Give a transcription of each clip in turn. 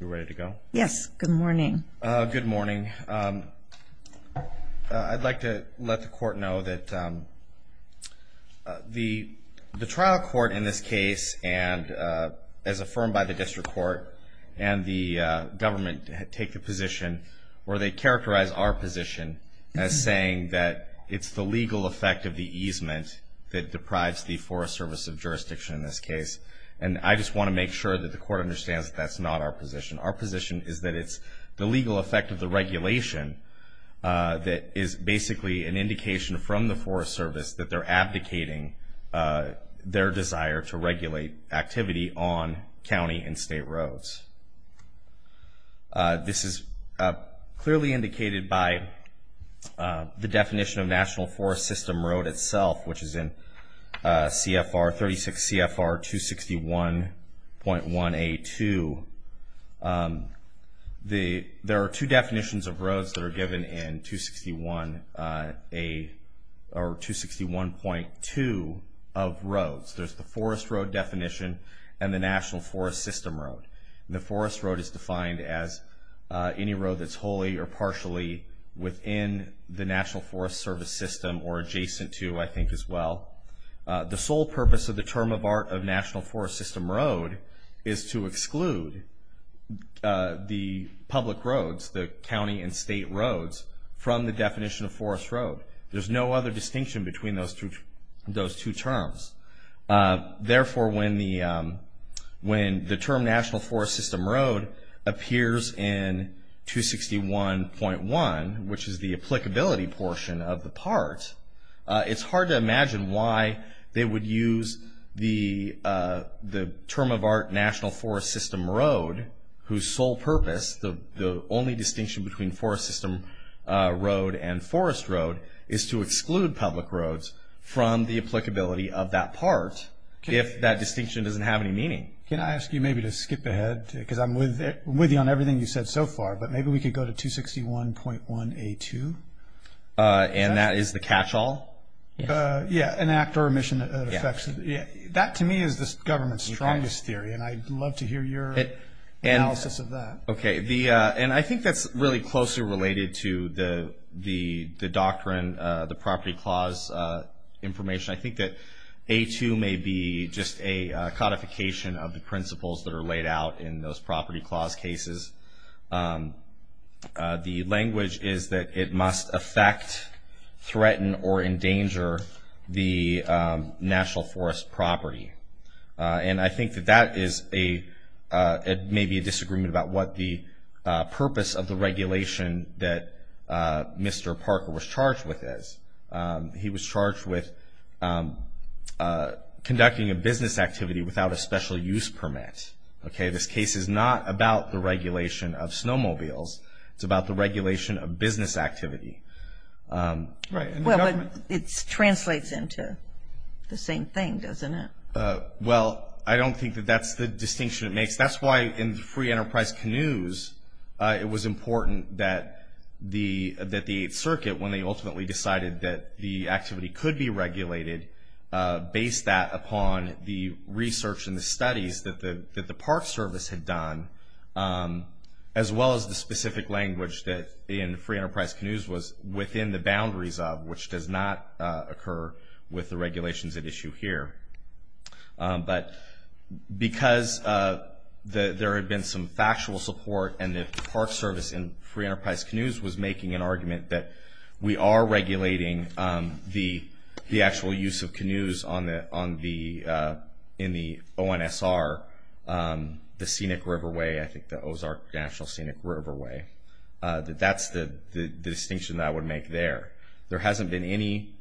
you ready to go yes good morning good morning I'd like to let the court know that the the trial court in this case and as affirmed by the district court and the government take the position where they characterize our position as saying that it's the legal effect of the easement that deprives the Forest Service of jurisdiction in this case and I just want to make sure that the court understands that's not our position our position is that it's the legal effect of the regulation that is basically an indication from the Forest Service that they're abdicating their desire to regulate activity on county and state roads this is clearly indicated by the definition of National Forest System Road itself which is in CFR 36 CFR 261.1 a to the there are two definitions of roads that are given in 261 a or 261.2 of roads there's the Forest Road definition and the National Forest System Road the Forest Road is defined as any road that's wholly or partially within the National Forest Service system or adjacent to I think as well the sole purpose of the term of art of National Forest System Road is to exclude the public roads the county and state roads from the definition of Forest Road there's no other distinction between those two those two terms therefore when the when the term National Forest System Road appears in 261.1 which is the applicability portion of the part it's hard to imagine why they would use the the term of art National Forest System Road whose sole purpose the only distinction between Forest System Road and Forest Road is to exclude public roads from the applicability of that part if that distinction doesn't have any meaning can I ask you maybe to skip ahead because I'm with it with you on 261.1 a to and that is the catch-all yeah an act or a mission that affects yeah that to me is this government's strongest theory and I'd love to hear your analysis of that okay the and I think that's really closely related to the the the doctrine the property clause information I think that a to may be just a codification of the principles that are laid out in those property clauses the language is that it must affect threaten or endanger the National Forest property and I think that that is a it may be a disagreement about what the purpose of the regulation that mr. Parker was charged with is he was charged with conducting a business activity without a special-use permit okay this case is not about the regulation of snowmobiles it's about the regulation of business activity right well it translates into the same thing doesn't it well I don't think that that's the distinction it makes that's why in the free enterprise canoes it was important that the that the circuit when they ultimately decided that the activity could be regulated based that the research and the studies that the that the Park Service had done as well as the specific language that in free enterprise canoes was within the boundaries of which does not occur with the regulations at issue here but because the there had been some factual support and the Park Service in free enterprise canoes was making an argument that we are regulating the the actual use of canoes on the on the in the ONSR the scenic riverway I think the Ozark National Scenic Riverway that that's the distinction that would make there there hasn't been any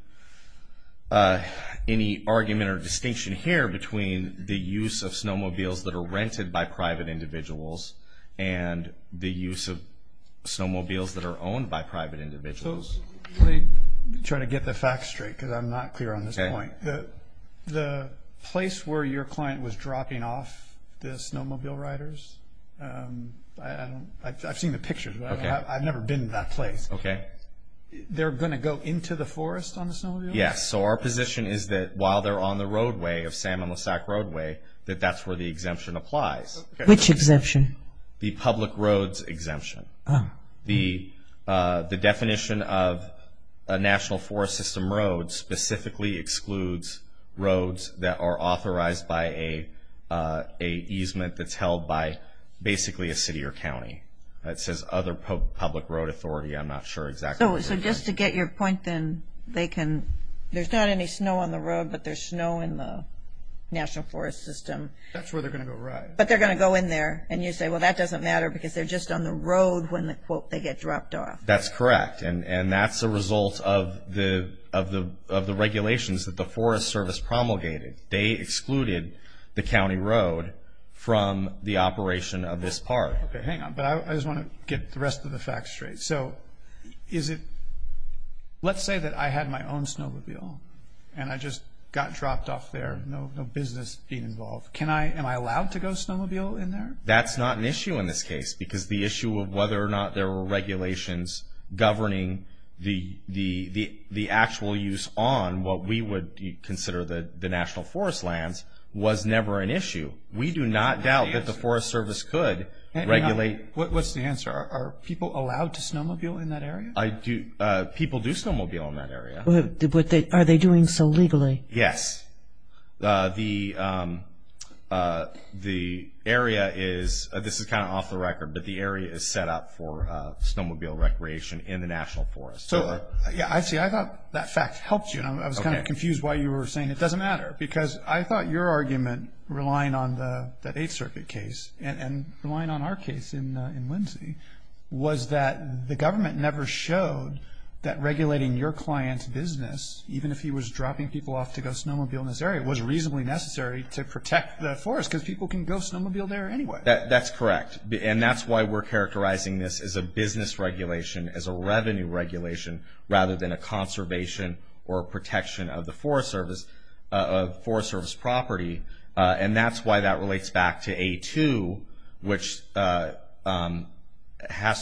any argument or distinction here between the use of snowmobiles that are rented by private individuals and the use of snowmobiles that are owned by private individuals trying to get the facts straight because I'm not clear on this point the place where your client was dropping off the snowmobile riders I've seen the pictures okay I've never been to that place okay they're gonna go into the forest on the snow yes so our position is that while they're on the roadway of salmon Lissac roadway that that's where the exemption applies which exemption the public roads exemption the the definition of a national forest system road specifically excludes roads that are authorized by a a easement that's held by basically a city or county that says other public road authority I'm not sure exactly so just to get your point then they can there's not any snow on the road but there's snow in the national forest system that's where they're gonna go right but they're gonna go in there and you say well that doesn't matter because they're just on the road when they get dropped off that's correct and and that's a result of the of the of the regulations that the Forest Service promulgated they excluded the county road from the operation of this part okay hang on but I just want to get the rest of the facts straight so is it let's say that I had my own snowmobile and I just got dropped off there no business being involved can I am I allowed to go snowmobile in there that's not an issue in this case because the there were regulations governing the the the actual use on what we would consider the the national forest lands was never an issue we do not doubt that the Forest Service could regulate what's the answer are people allowed to snowmobile in that area I do people do snowmobile in that area but they are they doing so legally yes the the area is this is kind of off the record but the area is set up for snowmobile recreation in the National Forest so yeah I see I thought that fact helped you know I was kind of confused why you were saying it doesn't matter because I thought your argument relying on the Eighth Circuit case and relying on our case in in Lindsay was that the government never showed that regulating your client's business even if he was dropping people off to go snowmobile in this area was reasonably necessary to protect the forest because people can go snowmobile there anyway that that's correct and that's why we're characterizing this as a business regulation as a revenue regulation rather than a conservation or protection of the Forest Service of Forest Service property and that's why that relates back to a to which has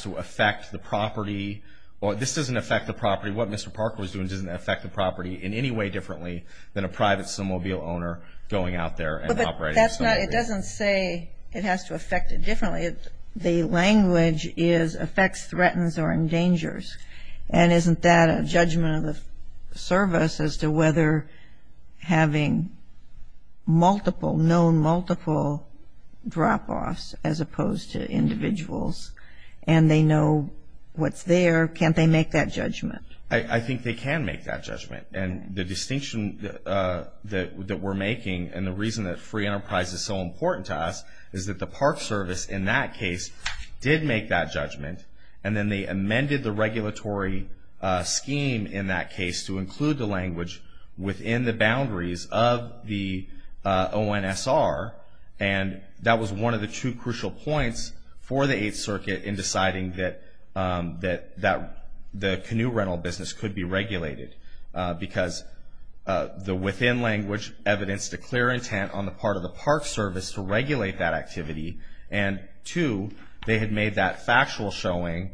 to affect the property or this doesn't affect the property what mr. Parker was doing doesn't affect the property in any way differently than a private snowmobile owner going out there and it doesn't say it has to affect it differently if the language is affects threatens or endangers and isn't that a judgment of the service as to whether having multiple known multiple drop-offs as opposed to individuals and they know what's there can't they make that judgment I think they can make that judgment and the distinction that that we're making and the reason that free price is so important to us is that the Park Service in that case did make that judgment and then they amended the regulatory scheme in that case to include the language within the boundaries of the ONS are and that was one of the two crucial points for the 8th Circuit in deciding that that that the canoe rental business could be regulated because the within language evidence to clear intent on the part of the Park Service to regulate that activity and to they had made that factual showing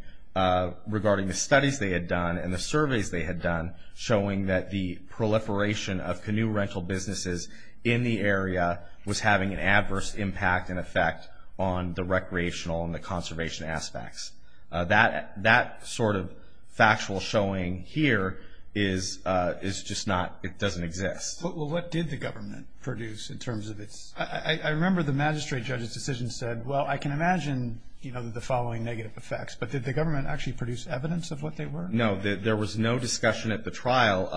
regarding the studies they had done in the surveys they had done showing that the proliferation of canoe rental businesses in the area was having an adverse impact and effect on the recreational and the conservation aspects that that sort of factual showing here is is just not it doesn't exist what did the government produce in terms of its I remember the magistrate judge's decision said well I can imagine you know the following negative effects but did the government actually produce evidence of what they were no there was no discussion at the trial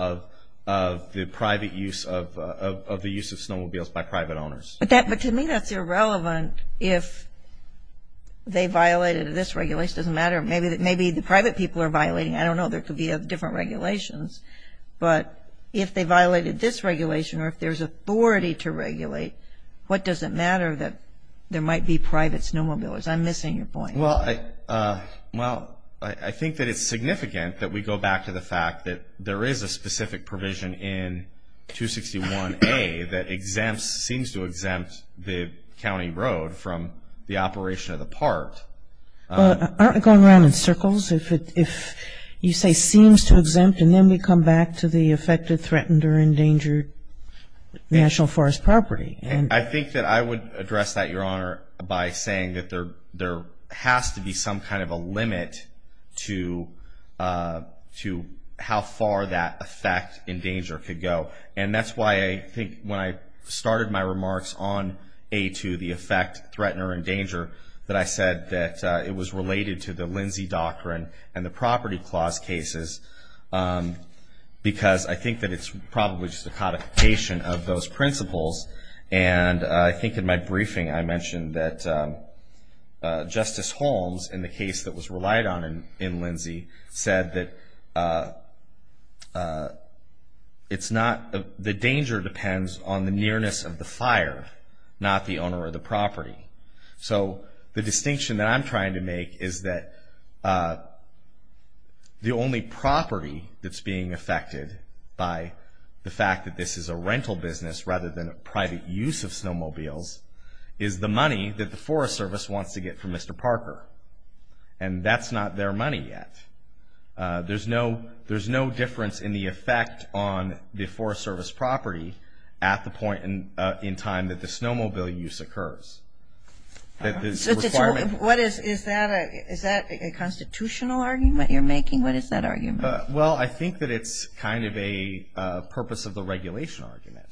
of the private use of the use of snowmobiles by private owners but that but to me that's irrelevant if they violated this regulation doesn't matter maybe that private people are violating I don't know there could be a different regulations but if they violated this regulation or if there's authority to regulate what does it matter that there might be private snowmobiles I'm missing your point well I well I think that it's significant that we go back to the fact that there is a specific provision in 261 a that exempts seems to exempt the county road from the operation of the part going around in circles if it if you say seems to exempt and then we come back to the affected threatened or endangered national forest property and I think that I would address that your honor by saying that there there has to be some kind of a limit to to how far that effect in danger could go and that's why I think when I started my to the effect threatener and danger that I said that it was related to the Lindsay doctrine and the property clause cases because I think that it's probably just a codification of those principles and I think in my briefing I mentioned that Justice Holmes in the case that was relied on and in Lindsay said that it's not the danger depends on the nearness of the fire not the property so the distinction that I'm trying to make is that the only property that's being affected by the fact that this is a rental business rather than a private use of snowmobiles is the money that the Forest Service wants to get for Mr. Parker and that's not their money yet there's no there's no difference in the effect on the Forest Service property at the point in time that the snowmobile use occurs what is is that a is that a constitutional argument you're making what is that argument well I think that it's kind of a purpose of the regulation argument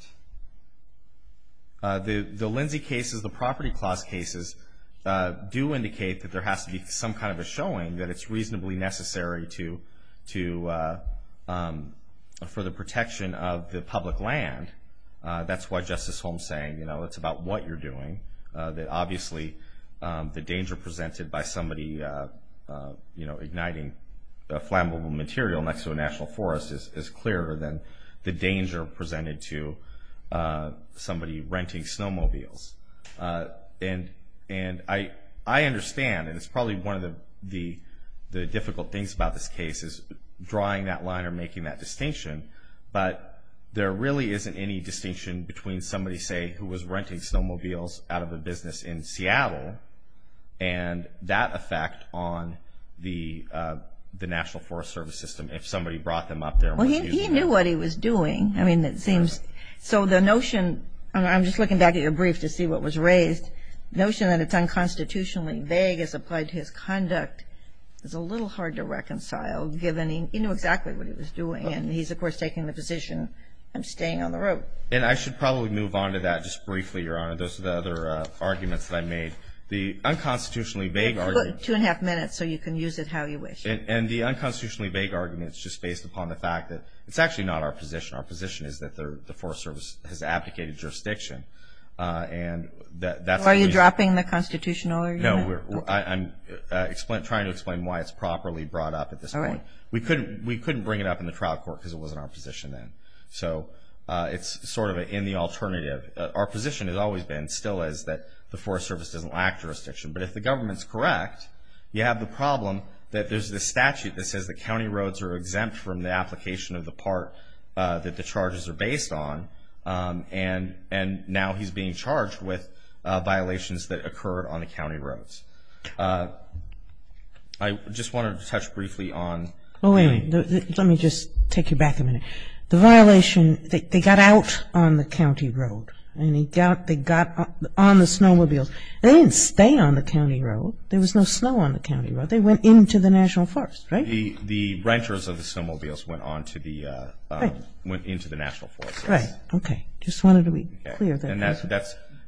the the Lindsay cases the property clause cases do indicate that there has to be some kind of a showing that it's reasonably necessary to to for the protection of the public land that's why justice home saying you know it's about what you're doing that obviously the danger presented by somebody you know igniting a flammable material next to a national forest is is clearer than the danger presented to somebody renting snowmobiles and and I I understand it's probably one of the the difficult things about this case is drawing that line or making that distinction but there really isn't any distinction between somebody say who was renting snowmobiles out of the business in Seattle and that effect on the the National Forest Service system if somebody brought them up there well he knew what he was doing I mean it seems so the notion I'm just looking back at your brief to see what was raised notion that it's unconstitutionally vague as applied to his conduct is a little hard to reconcile given he knew exactly what he was doing and he's of course taking the position I'm staying on the road and I should probably move on to that just briefly your honor those are the other arguments that I made the unconstitutionally vague or two and a half minutes so you can use it how you wish it and the unconstitutionally vague arguments just based upon the fact that it's actually not our position our position is that they're the Forest Service has abdicated jurisdiction and that are you dropping the constitutional or no we're I'm explained trying to explain why it's properly brought up at this point we couldn't we couldn't bring it up in the crowd court because it wasn't our position then so it's sort of in the alternative our position has always been still is that the Forest Service doesn't lack jurisdiction but if the government's correct you have the problem that there's the statute that says the county roads are exempt from the application of the part that the charges are based on and and now he's being charged with violations that occurred on the county roads I just wanted to touch take you back a minute the violation they got out on the county road and he got they got on the snowmobiles they didn't stay on the county road there was no snow on the county road they went into the National Forest right the the renters of the snowmobiles went on to the went into the National Forest right okay just wanted to be clear that's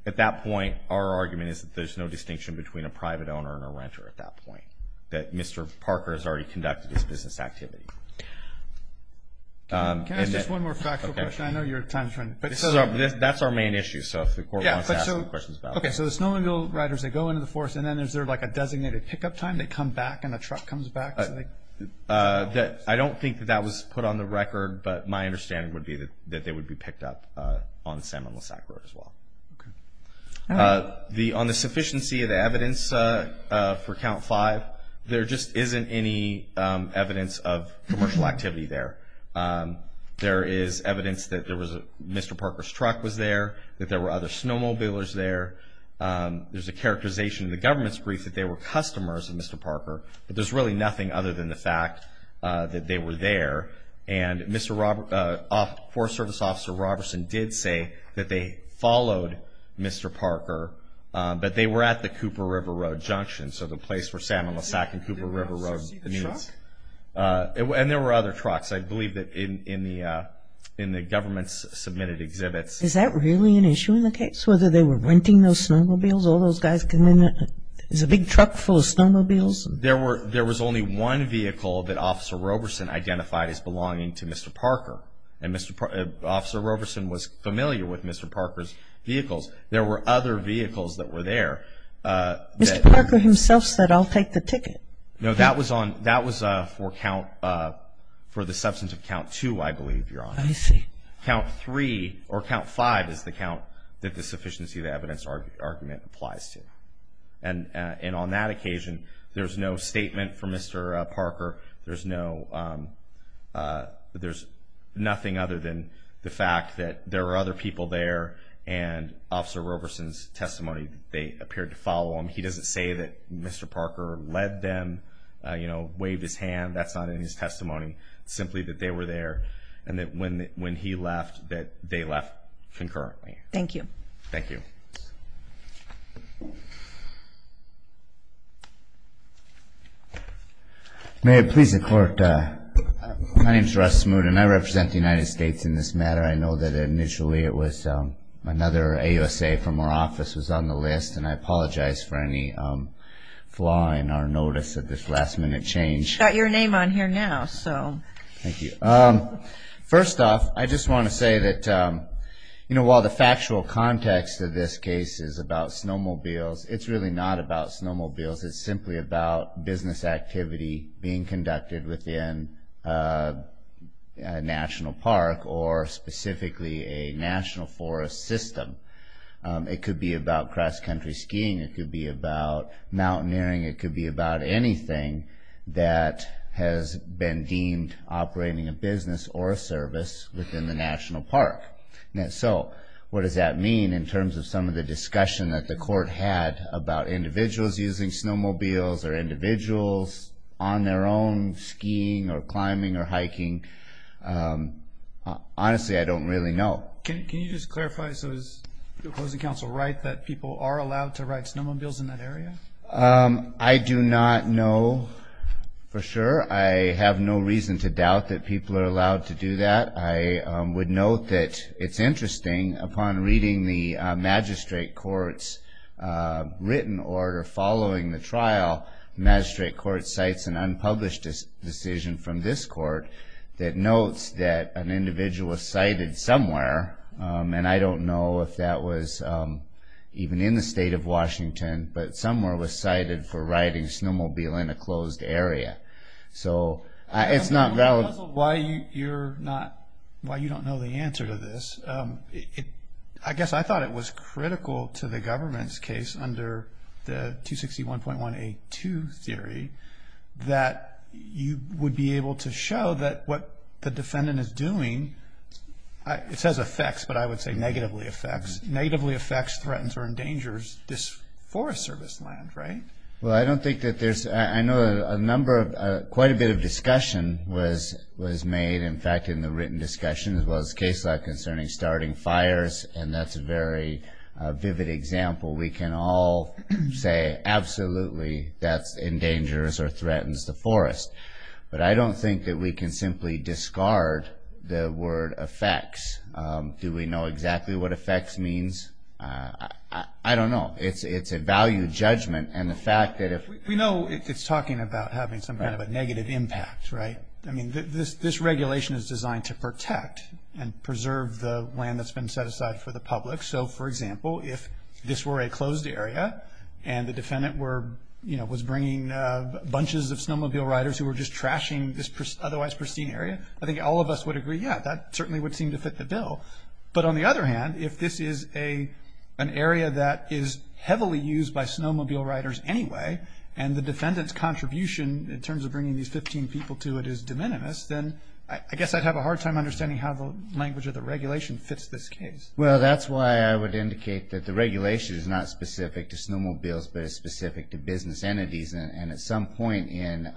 at that point our argument is that there's no distinction between a private owner and a renter at that point that mr. Parker has already conducted this business activity that's our main issue so okay so the snowmobile riders they go into the forest and then there's there like a designated pickup time they come back and a truck comes back that I don't think that that was put on the record but my understanding would be that that they would be picked up on the salmon Lissac road as well the on the any evidence of commercial activity there there is evidence that there was a mr. Parker's truck was there that there were other snowmobilers there there's a characterization the government's brief that they were customers of mr. Parker but there's really nothing other than the fact that they were there and mr. Robert off for service officer Robertson did say that they followed mr. Parker but they were at the Cooper River Road Junction so the place for salmon Lissac and Cooper River Road and there were other trucks I believe that in in the in the government's submitted exhibits is that really an issue in the case whether they were renting those snowmobiles all those guys can there's a big truck full of snowmobiles there were there was only one vehicle that officer Roberson identified as belonging to mr. Parker and mr. officer Roberson was familiar with mr. Parker's vehicles there were other vehicles that were there mr. Parker himself said I'll take the ticket no that was on that was for count for the substance of count to I believe you're on I see count three or count five is the count that the sufficiency of evidence argument applies to and and on that occasion there's no statement for mr. Parker there's no there's nothing other than the fact that there are other people there and officer Roberson's testimony they appeared to follow him he doesn't say that mr. Parker led them you know wave his hand that's not in his testimony simply that they were there and that when when he left that they left concurrently thank you thank you may it please the court my name is Russ smooth and I represent the United States in this matter I know that initially it was another a USA from our office was on the list and I apologize for any flaw in our notice of this last-minute change got your name on here now so thank you um first off I just want to say that you know while the factual context of this case is about snowmobiles it's really not about snowmobiles it's simply about business activity being conducted within National Park or specifically a national forest system it could be about cross-country skiing it could be about mountaineering it could be about anything that has been deemed operating a business or a service within the National Park now so what does that mean in terms of some of the discussion that the court had about individuals using snowmobiles or individuals on their own skiing or climbing or hiking honestly I don't really know can you just clarify so is the closing counsel right that people are allowed to ride snowmobiles in that area I do not know for sure I have no reason to doubt that people are allowed to do that I would note that it's interesting upon reading the magistrate courts written order following the trial magistrate court cites an unpublished decision from this court that notes that an individual was cited somewhere and I don't know if that was even in the state of Washington but somewhere was cited for riding snowmobile in a closed area so it's not valid why you're not why you don't know the answer to this I guess I thought it was critical to the government's case under the 261.182 theory that you would be able to show that what the defendant is doing it says affects but I would say negatively affects negatively affects threatens or endangers this Forest Service land right well I don't think that there's a number of quite a bit of discussion was was made in fact in the written discussion was case like concerning starting fires and that's a very vivid example we can all say absolutely that's endangers or threatens the forest but I don't think that we can simply discard the word affects do we know exactly what affects means I don't know it's it's a value judgment and the fact that if we know it's talking about having some kind of a negative impact right I mean this this regulation is protect and preserve the land that's been set aside for the public so for example if this were a closed area and the defendant were you know was bringing bunches of snowmobile riders who were just trashing this otherwise pristine area I think all of us would agree yeah that certainly would seem to fit the bill but on the other hand if this is a an area that is heavily used by snowmobile riders anyway and the defendant's contribution in terms of bringing these 15 people to it is de minimis then I guess I'd have a hard time understanding how the language of the regulation fits this case well that's why I would indicate that the regulation is not specific to snow mobiles but is specific to business entities and at some point in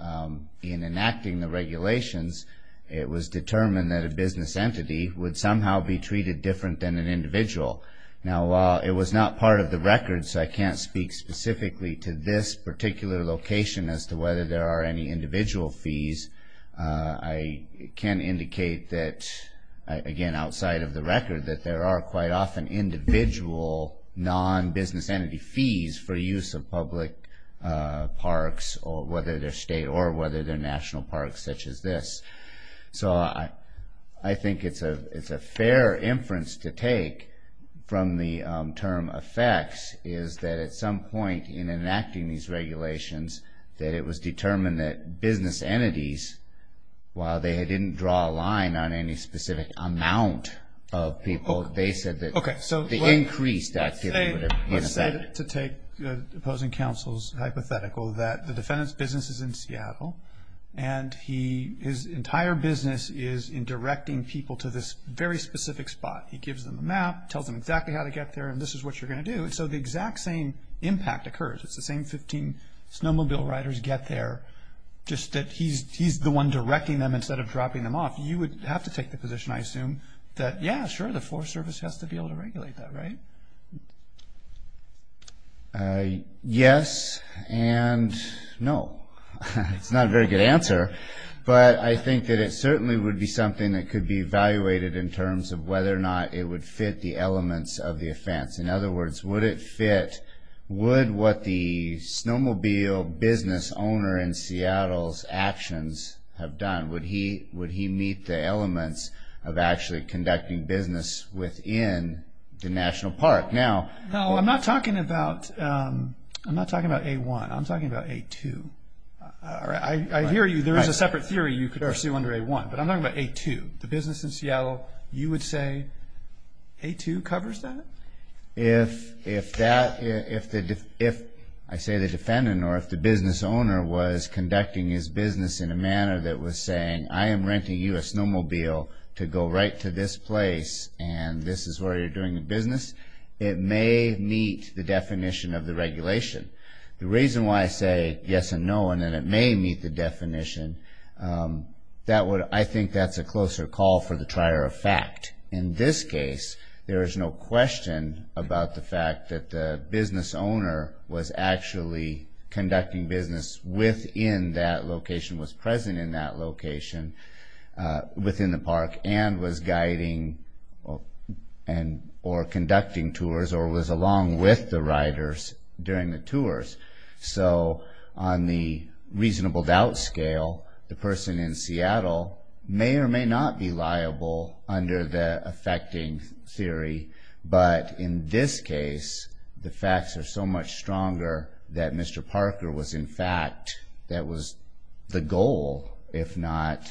in enacting the regulations it was determined that a business entity would somehow be treated different than an individual now while it was not part of the record so I can't speak specifically to this particular location as to whether there are any again outside of the record that there are quite often individual non-business entity fees for use of public parks or whether their state or whether their national parks such as this so I I think it's a it's a fair inference to take from the term effects is that at some point in enacting these regulations that it was determined that business entities while they didn't draw a line on any specific amount of people they said that okay so the increase that today to take opposing counsel's hypothetical that the defendant's business is in Seattle and he his entire business is in directing people to this very specific spot he gives them a map tells them exactly how to get there and this is what you're going to do and so the exact same impact occurs it's the same 15 snowmobile riders get there just that he's he's the one directing them instead of dropping them off you would have to take the position I assume that yeah sure the Forest Service has to be able to regulate that right yes and no it's not a very good answer but I think that it certainly would be something that could be evaluated in terms of whether or not it would fit the snowmobile business owner in Seattle's actions have done would he would he meet the elements of actually conducting business within the National Park now no I'm not talking about I'm not talking about a1 I'm talking about a2 all right I hear you there is a separate theory you could pursue under a1 but I'm not about a2 the business in Seattle you would say a2 covers that if if that if that if I say the defendant or if the business owner was conducting his business in a manner that was saying I am renting you a snowmobile to go right to this place and this is where you're doing business it may meet the definition of the regulation the reason why I say yes and no and then it may meet the definition that would I think that's a closer call for the trier of in this case there is no question about the fact that the business owner was actually conducting business with in that location was present in that location within the park and was guiding and or conducting tours or was along with the riders during the tours so on the reasonable doubt scale the person in the affecting theory but in this case the facts are so much stronger that mr. Parker was in fact that was the goal if not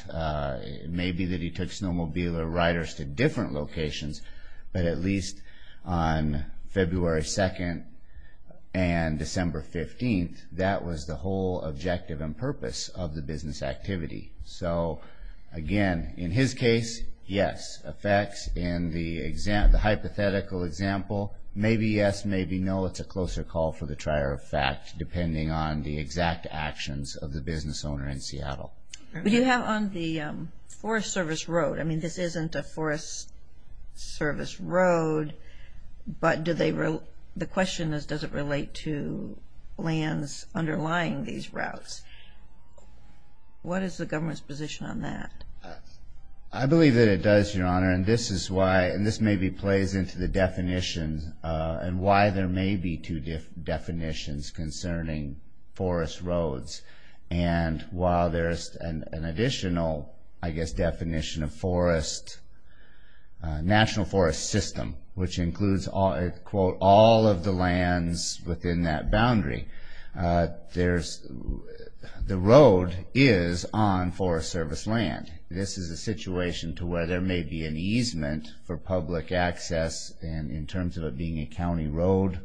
maybe that he took snowmobile or riders to different locations but at least on February 2nd and December 15th that was the whole objective and purpose of the business activity so again in his case yes effects in the exam the hypothetical example maybe yes maybe no it's a closer call for the trier of fact depending on the exact actions of the business owner in Seattle we do have on the Forest Service Road I mean this isn't a Forest Service Road but did they wrote the question is does it relate to lands underlying these routes what is the government's position on that I believe that it does your honor and this is why and this may be plays into the definitions and why there may be two different definitions concerning forest roads and while there's an additional I guess definition of forest National Forest System which includes all it quote all of the lands within that boundary there's the road is on Forest Service land this is a situation to where there may be an easement for public access and in terms of it being a county road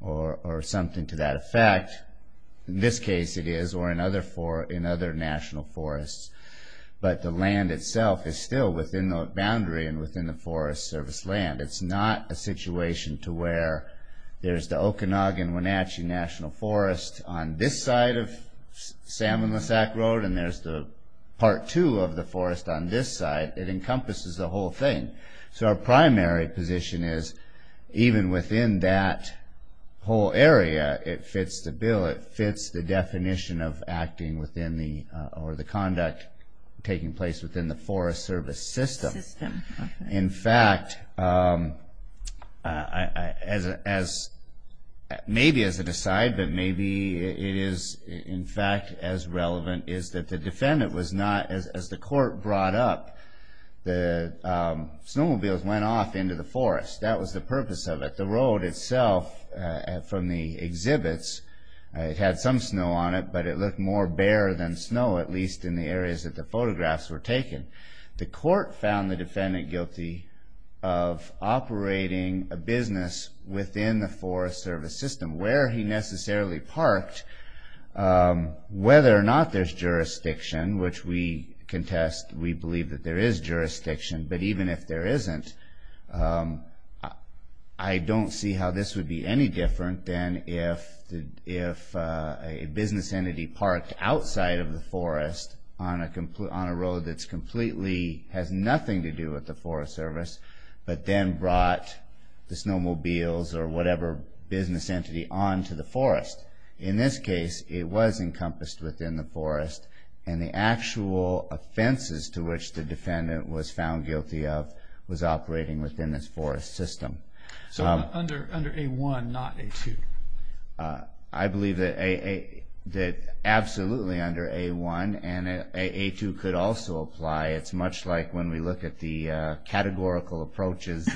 or something to that effect in this case it is or another for in other National Forests but the land itself is still within the boundary and the Forest Service land it's not a situation to where there's the Okanagan Wenatchee National Forest on this side of salmon the sack road and there's the part two of the forest on this side it encompasses the whole thing so our primary position is even within that whole area it fits the bill it fits the definition of acting within the or the conduct taking place within the Forest Service system in fact as maybe as a decide that maybe it is in fact as relevant is that the defendant was not as the court brought up the snowmobiles went off into the forest that was the purpose of it the road itself from the exhibits it had some snow on it but it looked more bare than snow at least in the areas that the photographs were taken the court found the defendant guilty of operating a business within the Forest Service system where he necessarily parked whether or not there's jurisdiction which we contest we believe that there is jurisdiction but even if there isn't I don't see how this would be any different than if if a business entity parked outside of the on a complete on a road that's completely has nothing to do with the Forest Service but then brought the snowmobiles or whatever business entity on to the forest in this case it was encompassed within the forest and the actual offenses to which the defendant was found guilty of was operating within this forest system so under under a 1 not a 2 I believe that a that absolutely under a 1 and a 2 could also apply it's much like when we look at the categorical approaches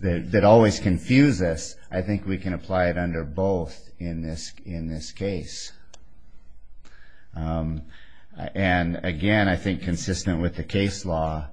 that always confuse us I think we can apply it under both in this in this case and again I think consistent with the case law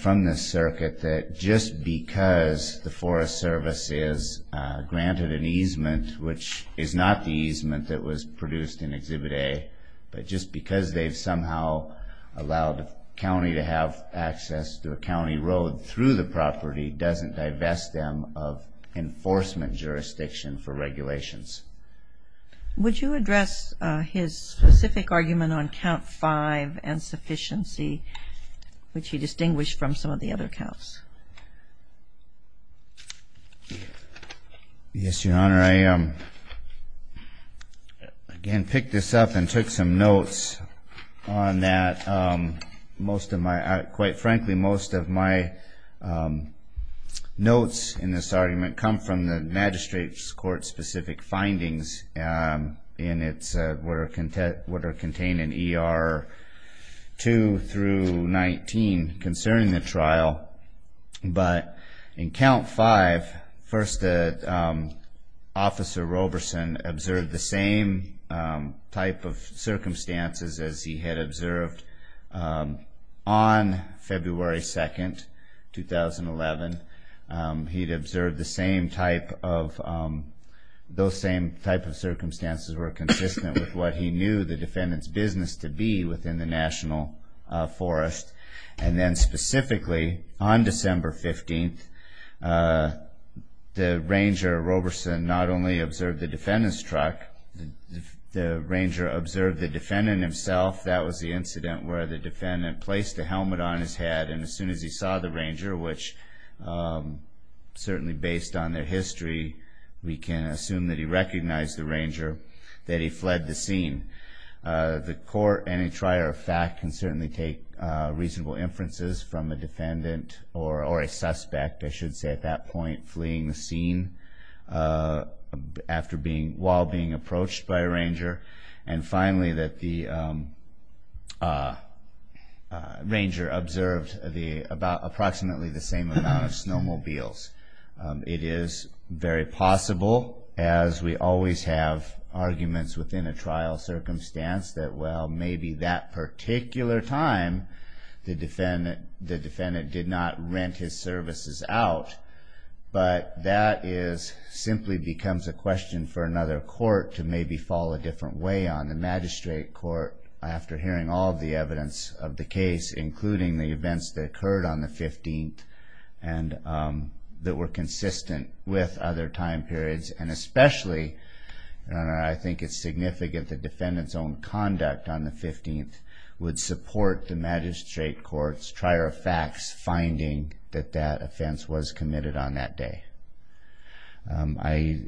from this circuit that just because the Forest Service is granted an easement which is not the easement that was produced in exhibit a but just because they've somehow allowed a county to have access to a county road through the property doesn't divest them of enforcement jurisdiction for regulations would you address his specific argument on count five and sufficiency which he again pick this up and took some notes on that most of my quite frankly most of my notes in this argument come from the magistrate's court specific findings in its were content what are contained in er 2 through 19 concerning the trial but in count five first officer Roberson observed the same type of circumstances as he had observed on February 2nd 2011 he'd observed the same type of those same type of circumstances were consistent with what he knew the defendant's business to be within the National Forest and then specifically on the Ranger Roberson not only observed the defendant's truck the Ranger observed the defendant himself that was the incident where the defendant placed a helmet on his head and as soon as he saw the Ranger which certainly based on their history we can assume that he recognized the Ranger that he fled the scene the court any trier of fact can certainly take reasonable inferences from a defendant or or a suspect I should say at that point fleeing the scene after being while being approached by a Ranger and finally that the Ranger observed the about approximately the same amount of snowmobiles it is very possible as we always have arguments within a trial circumstance that well maybe that particular time the defendant the defendant did not rent his services out but that is simply becomes a question for another court to maybe fall a different way on the magistrate court after hearing all the evidence of the case including the events that occurred on the 15th and that were consistent with other time periods and especially I think it's significant the 15th would support the magistrate courts trier of facts finding that that offense was committed on that day I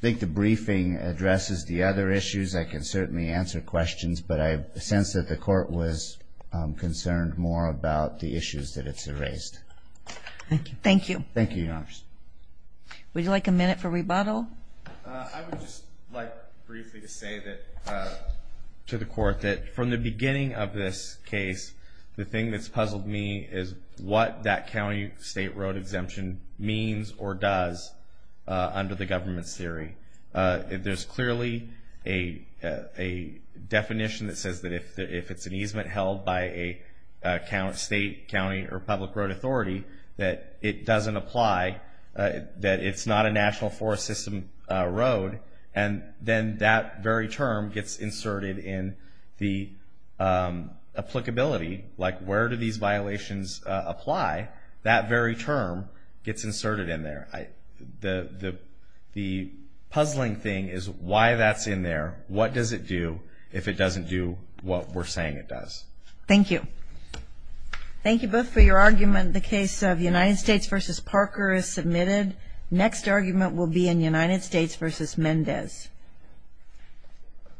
think the briefing addresses the other issues I can certainly answer questions but I sense that the court was concerned more about the issues that it's erased thank you thank you thank you your to the court that from the beginning of this case the thing that's puzzled me is what that County State Road exemption means or does under the government's theory if there's clearly a a definition that says that if it's an easement held by a count state county or public road authority that it doesn't apply that it's not a national forest system road and then that very term gets inserted in the applicability like where do these violations apply that very term gets inserted in there I the the the puzzling thing is why that's in there what does it do if it doesn't do what we're saying it does thank you thank you both for argument will be in United States vs. Mendez